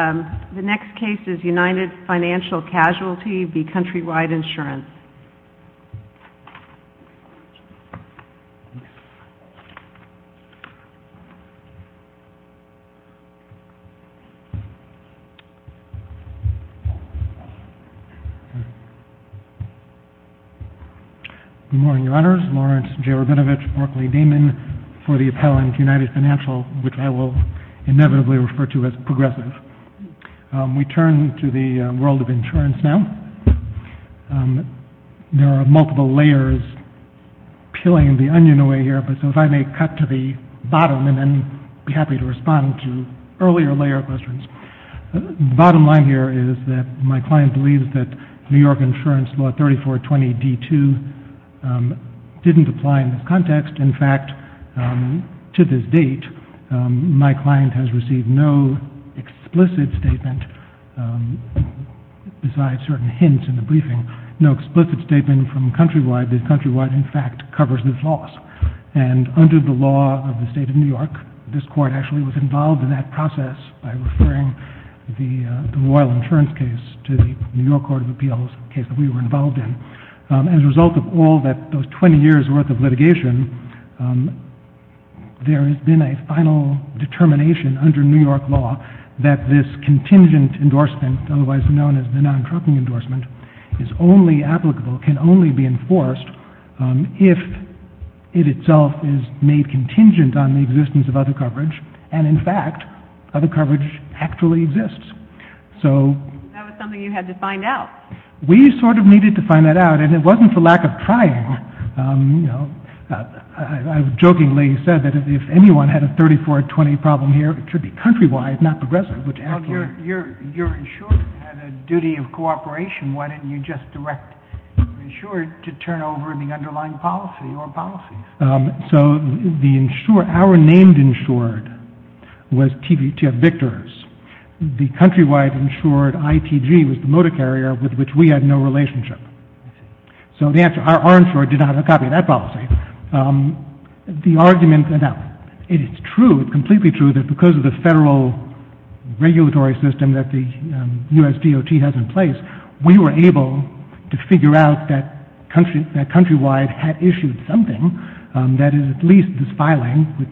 The next case is United Financial Casualty v. Countrywide Insurance. Good morning, Your Honors. My name is Lawrence J. Rabinovich Barclay-Damon for the appellant, United Financial, which I will inevitably refer to as progressive. We turn to the world of insurance now. There are multiple layers peeling the onion away here, so if I may cut to the bottom and then be happy to respond to earlier layer questions. The bottom line here is that my client believes that New York Insurance Law 3420D2 didn't apply in this context. In fact, to this date, my client has received no explicit statement, besides certain hints in the briefing, no explicit statement from Countrywide that Countrywide, in fact, covers this loss. And under the law of the state of New York, this court actually was involved in that process by referring the Royal Insurance case to the New York Court of Appeals, a case that we were involved in. As a result of all that, those 20 years' worth of litigation, there has been a final determination under New York law that this contingent endorsement, otherwise known as the non-trucking endorsement, is only applicable, can only be enforced, if it itself is made contingent on the existence of other coverage, and in fact, other coverage actually exists. That was something you had to find out. We sort of needed to find that out, and it wasn't for lack of trying. You know, I jokingly said that if anyone had a 3420 problem here, it should be Countrywide, not Progressive, which actually… Well, your insured had a duty of cooperation. Why didn't you just direct insured to turn over the underlying policy or policies? So our named insured was T.F. Victor's. The Countrywide insured, ITG, was the motor carrier with which we had no relationship. So our insured did not have a copy of that policy. Now, it is true, completely true, that because of the federal regulatory system that the U.S. DOT has in place, we were able to figure out that Countrywide had issued something that is at least this filing, which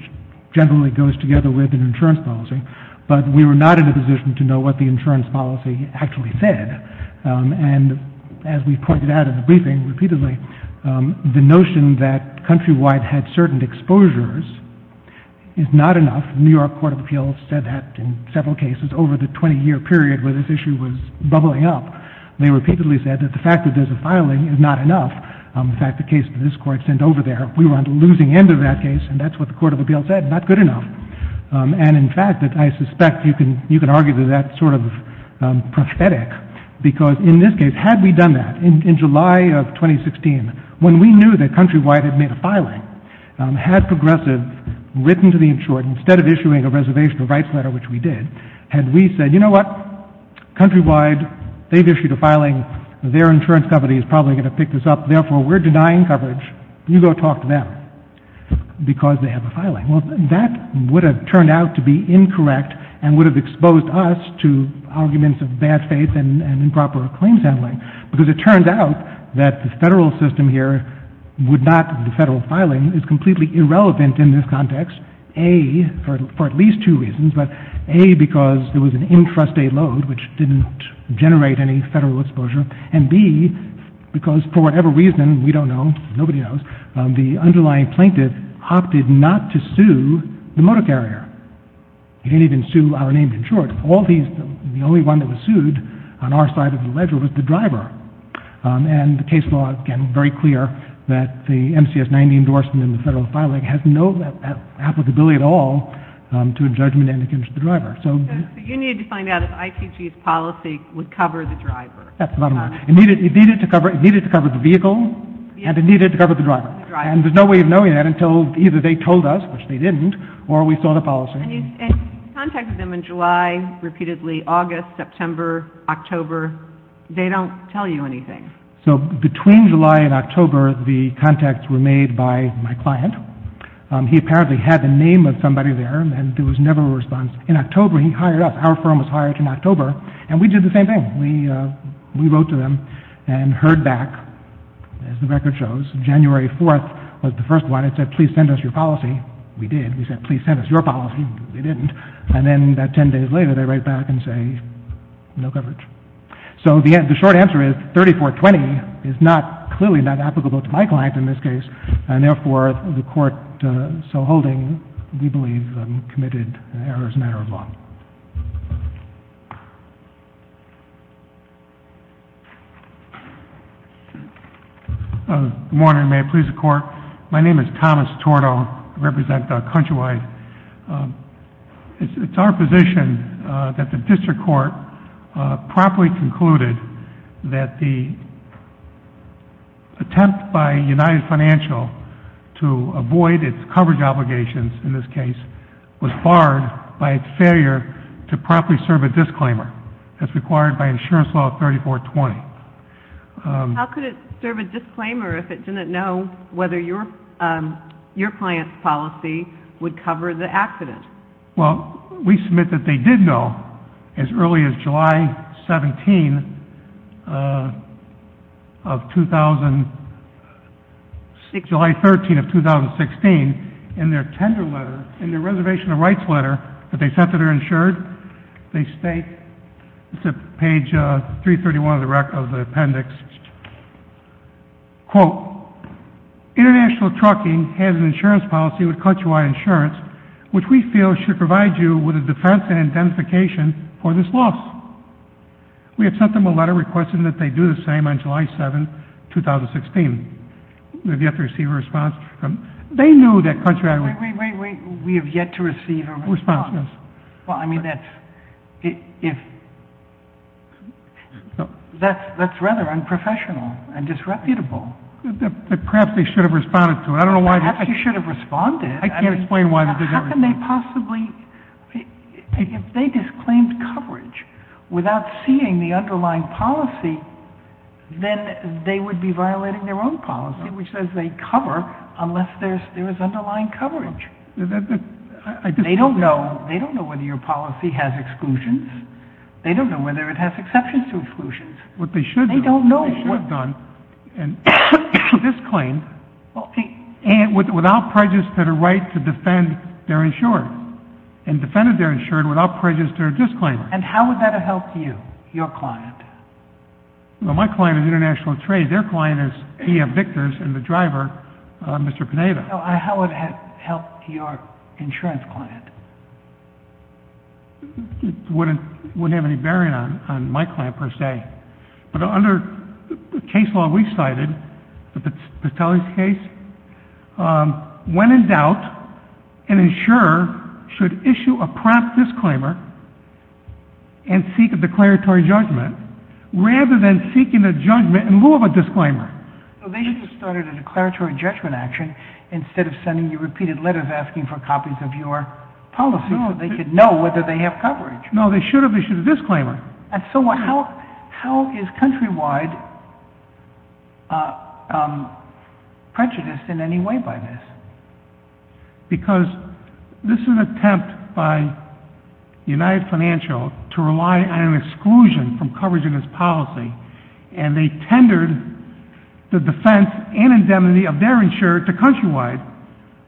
generally goes together with an insurance policy, but we were not in a position to know what the insurance policy actually said. And as we pointed out in the briefing repeatedly, the notion that Countrywide had certain exposures is not enough. New York Court of Appeals said that in several cases over the 20-year period where this issue was bubbling up. They repeatedly said that the fact that there's a filing is not enough. In fact, the case that this Court sent over there, we were on the losing end of that case, and that's what the Court of Appeals said, not good enough. And in fact, I suspect you can argue that that's sort of prosthetic, because in this case, had we done that, in July of 2016, when we knew that Countrywide had made a filing, had Progressive written to the insured, instead of issuing a reservation of rights letter, which we did, had we said, you know what? Countrywide, they've issued a filing. Their insurance company is probably going to pick this up. Therefore, we're denying coverage. You go talk to them because they have a filing. Well, that would have turned out to be incorrect and would have exposed us to arguments of bad faith and improper claims handling, because it turns out that the Federal system here would not, the Federal filing is completely irrelevant in this context, A, for at least two reasons, but A, because there was an intrastate load, which didn't generate any Federal exposure, and B, because for whatever reason, we don't know, nobody knows, the underlying plaintiff opted not to sue the motor carrier. He didn't even sue our named insured. All these, the only one that was sued on our side of the ledger was the driver. And the case law, again, very clear that the MCS 90 endorsement in the Federal filing has no applicability at all to a judgment and against the driver. So you need to find out if IPG's policy would cover the driver. That's the bottom line. It needed to cover the vehicle, and it needed to cover the driver. And there's no way of knowing that until either they told us, which they didn't, or we saw the policy. And you contacted them in July, repeatedly, August, September, October. They don't tell you anything. So between July and October, the contacts were made by my client. He apparently had the name of somebody there, and there was never a response. In October, he hired us. Our firm was hired in October, and we did the same thing. We wrote to them and heard back, as the record shows. January 4th was the first one. It said, please send us your policy. We did. We said, please send us your policy. They didn't. And then about 10 days later, they write back and say, no coverage. So the short answer is 3420 is clearly not applicable to my client in this case. And therefore, the Court, so holding, we believe committed an error as a matter of law. Good morning. May it please the Court. My name is Thomas Torto. I represent Countrywide. It's our position that the district court promptly concluded that the attempt by United Financial to avoid its coverage obligations, in this case, was barred by its failure to promptly serve a disclaimer, as required by Insurance Law 3420. How could it serve a disclaimer if it didn't know whether your client's policy would cover the accident? Well, we submit that they did know as early as July 17th of 2000, July 13th of 2016, in their tender letter, in their reservation of rights letter that they sent to their insured, they state, it's at page 331 of the appendix, quote, international trucking has an insurance policy with Countrywide Insurance, which we feel should provide you with a defense and identification for this loss. We have sent them a letter requesting that they do the same on July 7th, 2016. We have yet to receive a response from them. They knew that Countrywide would Wait, wait, wait. We have yet to receive a response. Response, yes. Well, I mean, that's rather unprofessional and disreputable. Perhaps they should have responded to it. Perhaps they should have responded. I can't explain why they didn't respond. How can they possibly, if they disclaimed coverage without seeing the underlying policy, then they would be violating their own policy, which says they cover unless there is underlying coverage. They don't know whether your policy has exclusions. They don't know whether it has exceptions to exclusions. What they should have done, they should have done, and disclaimed without prejudice to their right to defend their insured, and defended their insured without prejudice to their disclaiming. And how would that have helped you, your client? Well, my client is International Trade. Their client is P.F. Victors and the driver, Mr. Pineda. How would it have helped your insurance client? It wouldn't have any bearing on my client, per se. But under the case law we cited, the Petelius case, when in doubt, an insurer should issue a prompt disclaimer and seek a declaratory judgment, rather than seeking a judgment in lieu of a disclaimer. So they should have started a declaratory judgment action instead of sending you repeated letters asking for copies of your policy so they could know whether they have coverage. No, they should have issued a disclaimer. And so how is countrywide prejudice in any way by this? Because this is an attempt by United Financial to rely on an exclusion from coverage in its policy, and they tendered the defense and indemnity of their insurer to countrywide,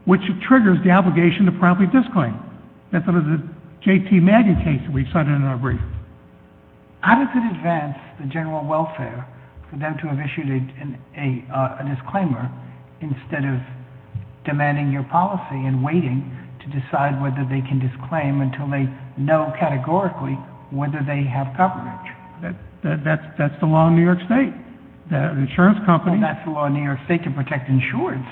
which triggers the obligation to promptly disclaim. That's under the J.T. Maggie case that we cited in our brief. How does it advance the general welfare for them to have issued a disclaimer instead of demanding your policy and waiting to decide whether they can disclaim until they know categorically whether they have coverage? That's the law in New York State, the insurance companies. Well, that's the law in New York State to protect insurers.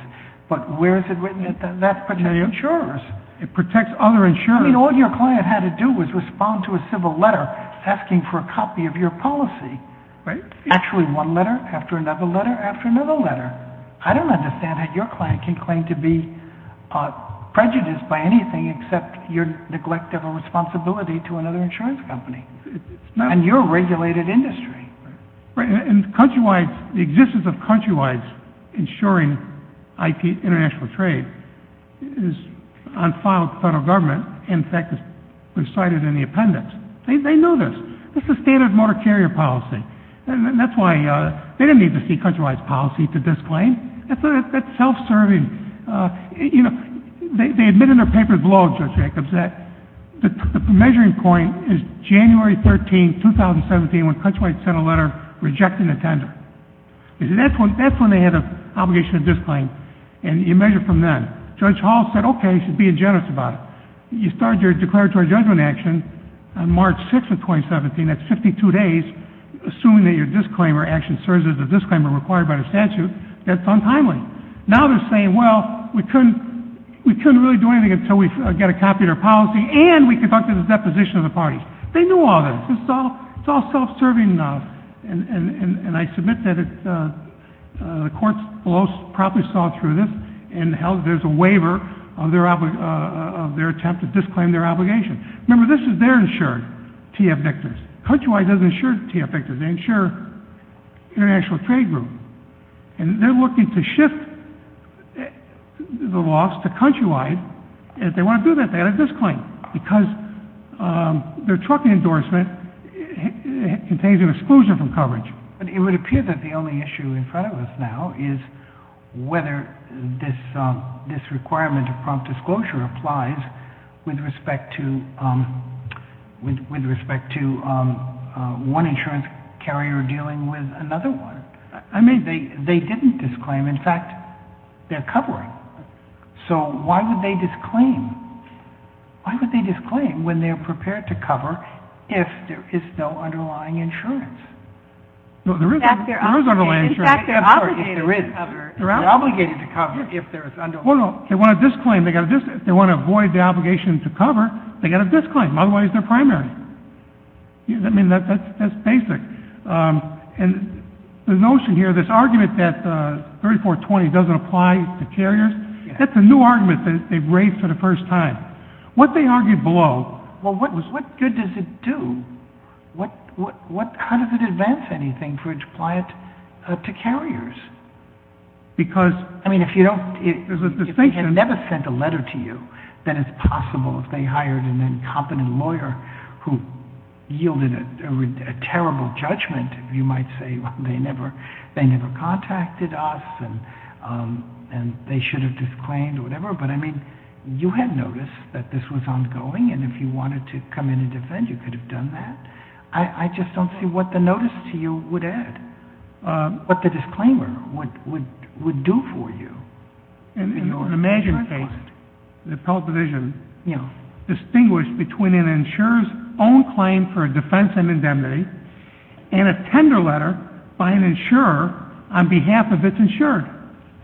But where is it written that that protects insurers? It protects other insurers. I mean, all your client had to do was respond to a civil letter asking for a copy of your policy. Right. Actually one letter after another letter after another letter. I don't understand how your client can claim to be prejudiced by anything except your neglect of a responsibility to another insurance company. And your regulated industry. Right. And countrywide, the existence of countrywide insuring international trade is on file with the federal government. In fact, it was cited in the appendix. They know this. This is standard motor carrier policy. And that's why they didn't need to see countrywide policy to disclaim. That's self-serving. You know, they admit in their papers below, Judge Jacobs, that the measuring point is January 13, 2017 when countrywide sent a letter rejecting the tender. That's when they had an obligation to disclaim. And you measure from then. Judge Hall said, okay, you should be generous about it. You start your declaratory judgment action on March 6 of 2017, that's 52 days, assuming that your disclaimer action serves as a disclaimer required by the statute. That's untimely. Now they're saying, well, we couldn't really do anything until we got a copy of their policy and we conducted a deposition of the parties. They knew all this. It's all self-serving enough. And I submit that the courts below probably saw through this and held that there's a waiver of their attempt to disclaim their obligation. Remember, this is their insured TF victors. Countrywide doesn't insure TF victors. They insure international trade groups. And they're looking to shift the loss to countrywide. If they want to do that, they've got to disclaim because their trucking endorsement contains an exclusion from coverage. But it would appear that the only issue in front of us now is whether this requirement of prompt disclosure applies with respect to one insurance carrier dealing with another one. I mean, they didn't disclaim. In fact, they're covering. So why would they disclaim? Why would they disclaim when they're prepared to cover if there is no underlying insurance? In fact, they're obligated to cover if there is underlying insurance. They want to disclaim. They want to avoid the obligation to cover. They've got to disclaim. Otherwise, they're primary. I mean, that's basic. And the notion here, this argument that 3420 doesn't apply to carriers, that's a new argument that they've raised for the first time. What they argued below. Well, what good does it do? How does it advance anything for it to apply it to carriers? Because there's a distinction. I mean, if they had never sent a letter to you, then it's possible if they hired an incompetent lawyer who yielded a terrible judgment, you might say they never contacted us and they should have disclaimed or whatever. But, I mean, you had noticed that this was ongoing, and if you wanted to come in and defend you could have done that. I just don't see what the notice to you would add, what the disclaimer would do for you. In an imagined case, the appellate division, distinguished between an insurer's own claim for a defense and indemnity and a tender letter by an insurer on behalf of its insured.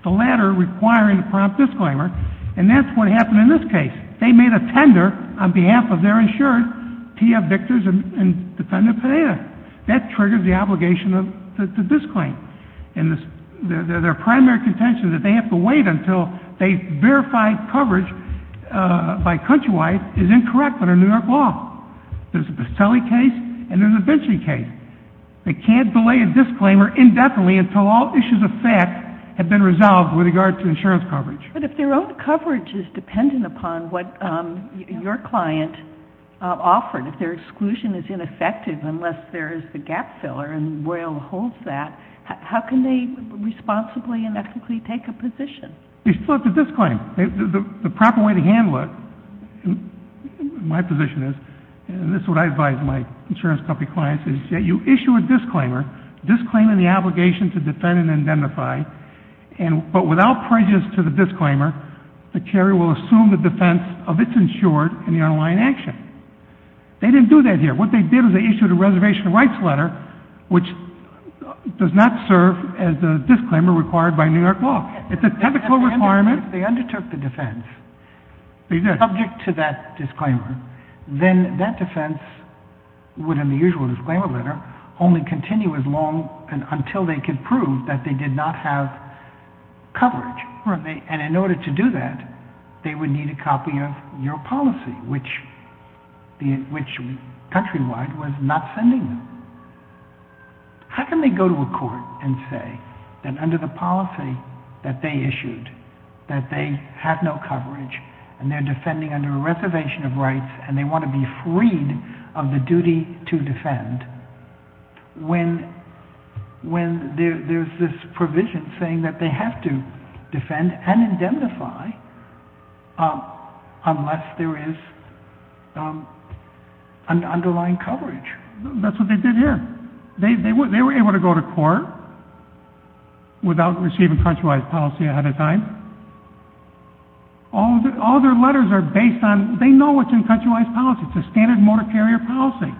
The latter requiring a prompt disclaimer, and that's what happened in this case. They made a tender on behalf of their insured, TF Victors and Defendant Panetta. That triggered the obligation to disclaim. And their primary contention that they have to wait until they verify coverage by Countrywide is incorrect under New York law. There's a Bastelli case and there's a Vinci case. They can't delay a disclaimer indefinitely until all issues of fact have been resolved with regard to insurance coverage. But if their own coverage is dependent upon what your client offered, if their exclusion is ineffective unless there is the gap filler, and Royal holds that, how can they responsibly and ethically take a position? They still have to disclaim. The proper way to handle it, my position is, and this is what I advise my insurance company clients, is that you issue a disclaimer, disclaiming the obligation to defend and identify, but without prejudice to the disclaimer, the carrier will assume the defense of its insured in the underlying action. They didn't do that here. What they did is they issued a reservation rights letter, which does not serve as the disclaimer required by New York law. It's a technical requirement. If they undertook the defense, subject to that disclaimer, then that defense would, in the usual disclaimer letter, only continue as long until they could prove that they did not have coverage. And in order to do that, they would need a copy of your policy, which countrywide was not sending them. How can they go to a court and say that under the policy that they issued, that they have no coverage and they're defending under a reservation of rights and they want to be freed of the duty to defend, when there's this provision saying that they have to defend and identify unless there is an underlying coverage? That's what they did here. They were able to go to court without receiving countrywide policy ahead of time. All their letters are based on, they know what's in countrywide policy. It's a standard motor carrier policy.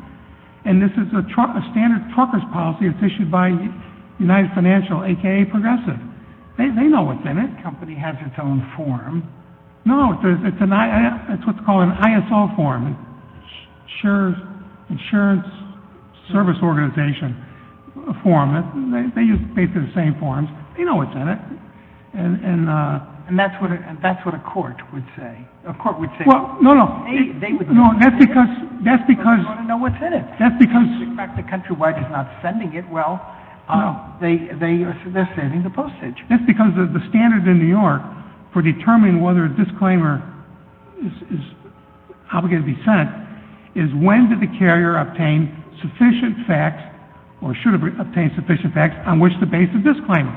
And this is a standard trucker's policy that's issued by United Financial, aka Progressive. They know what's in it. That company has its own form. No, it's what's called an ISO form, Insurance Service Organization form. They use basically the same forms. They know what's in it. And that's what a court would say. Well, no, no. They would know what's in it. They want to know what's in it. In fact, the countrywide is not sending it. Well, they're saving the postage. That's because the standard in New York for determining whether a disclaimer is obligated to be sent is when did the carrier obtain sufficient facts or should obtain sufficient facts on which to base the disclaimer.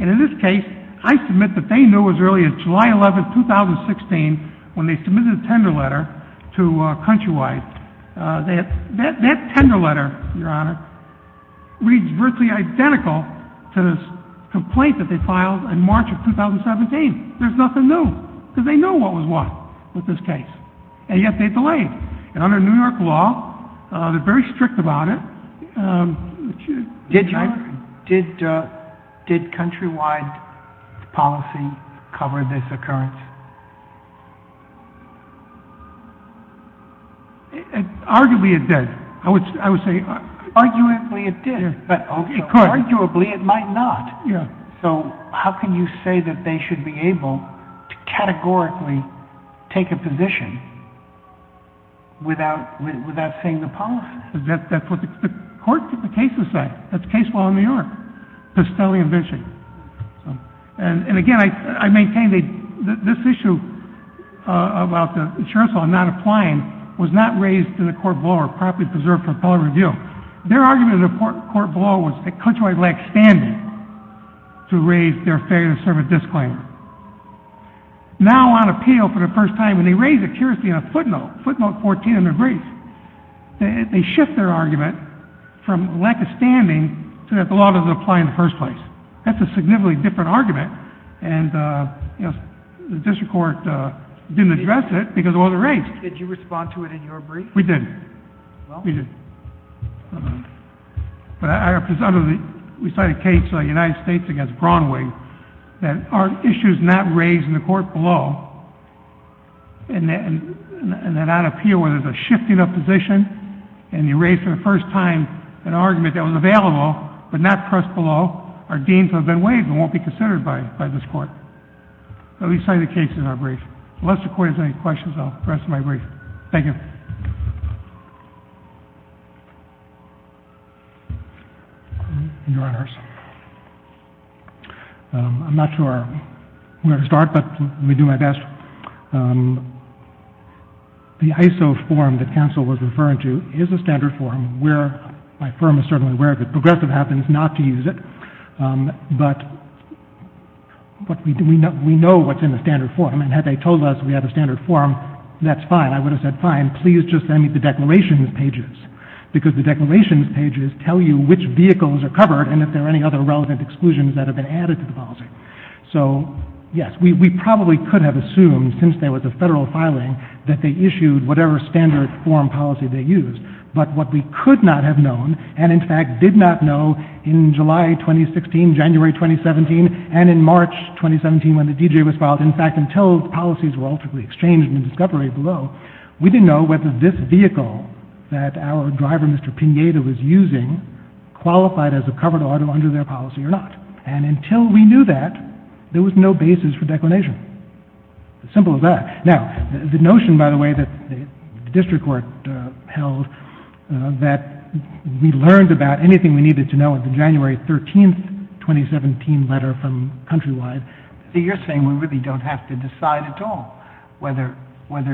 And in this case, I submit that they knew as early as July 11, 2016, when they submitted a tender letter to Countrywide. That tender letter, Your Honor, reads virtually identical to the complaint that they filed in March of 2017. There's nothing new because they know what was what with this case. And yet they delayed. And under New York law, they're very strict about it. Did Countrywide's policy cover this occurrence? Arguably, it did. Arguably, it did. Arguably, it might not. So how can you say that they should be able to categorically take a position without saying the policy? That's what the court cases say. That's the case law in New York, Pistelli and Vinci. And, again, I maintain this issue about the insurance law not applying was not raised in the court below or properly preserved for appellate review. Their argument in the court below was that Countrywide lacked standing to raise their failure to serve a disclaimer. Now on appeal for the first time, when they raise it curiously on a footnote, footnote 14 in their brief, they shift their argument from lack of standing so that the law doesn't apply in the first place. That's a significantly different argument. And, you know, the district court didn't address it because it wasn't raised. Did you respond to it in your brief? We did. Well? We did. But we cited a case in the United States against Braunwig that our issue is not raised in the court below and that on appeal where there's a shifting of position and you raise for the first time an argument that was available but not pressed below are deemed to have been waived and won't be considered by this court. So we cited the case in our brief. Unless the Court has any questions, I'll rest my brief. Thank you. Your Honors, I'm not sure where to start, but I'm going to do my best. The ISO form that counsel was referring to is a standard form where my firm is certainly aware of it. Progressive happens not to use it, but we know what's in the standard form and had they told us we have a standard form, that's fine. I would have said, fine, please just send me the declarations pages because the declarations pages tell you which vehicles are covered and if there are any other relevant exclusions that have been added to the policy. So, yes, we probably could have assumed since there was a federal filing that they issued whatever standard form policy they used. But what we could not have known and, in fact, did not know in July 2016, January 2017, and in March 2017 when the D.J. was filed, in fact, until the policies were ultimately exchanged in the discovery below, we didn't know whether this vehicle that our driver, Mr. Pineda, was using qualified as a covered auto under their policy or not. And until we knew that, there was no basis for declination. Simple as that. Now, the notion, by the way, that the district court held that we learned about anything we needed to know in the January 13, 2017 letter from Countrywide. You're saying we really don't have to decide at all whether the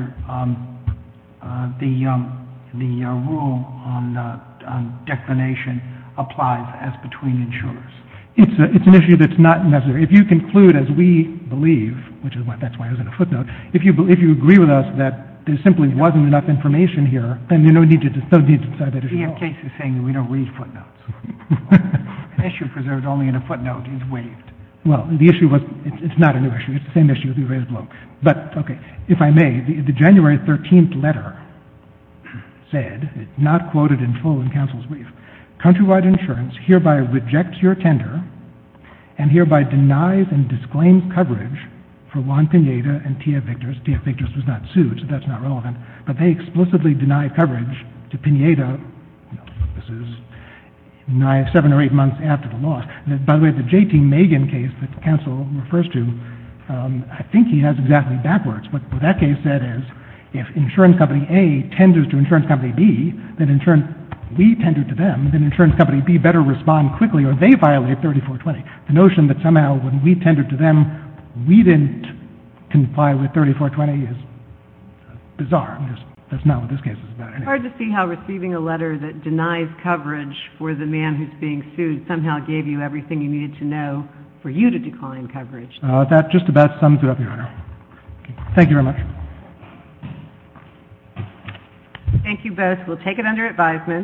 rule on declination applies as between insurers. It's an issue that's not necessary. If you conclude, as we believe, which is why I was in a footnote, if you agree with us that there simply wasn't enough information here, then there's no need to decide that at all. We have cases saying we don't read footnotes. An issue preserved only in a footnote is waived. Well, the issue was, it's not a new issue. It's the same issue as we raised below. But, okay, if I may, the January 13 letter said, not quoted in full in counsel's brief, Countrywide Insurance hereby rejects your tender and hereby denies and disclaims coverage for Juan Pineda and T.F. Victors. T.F. Victors was not sued, so that's not relevant. But they explicitly denied coverage to Pineda. This is seven or eight months after the loss. By the way, the J.T. Megan case that counsel refers to, I think he has exactly backwards. What that case said is if insurance company A tenders to insurance company B, then we tender to them, then insurance company B better respond quickly or they violate 3420. The notion that somehow when we tendered to them, we didn't comply with 3420 is bizarre. That's not what this case is about anyway. It's hard to see how receiving a letter that denies coverage for the man who's being sued somehow gave you everything you needed to know for you to decline coverage. That just about sums it up, Your Honor. Thank you very much. Thank you both. We'll take it under advisement.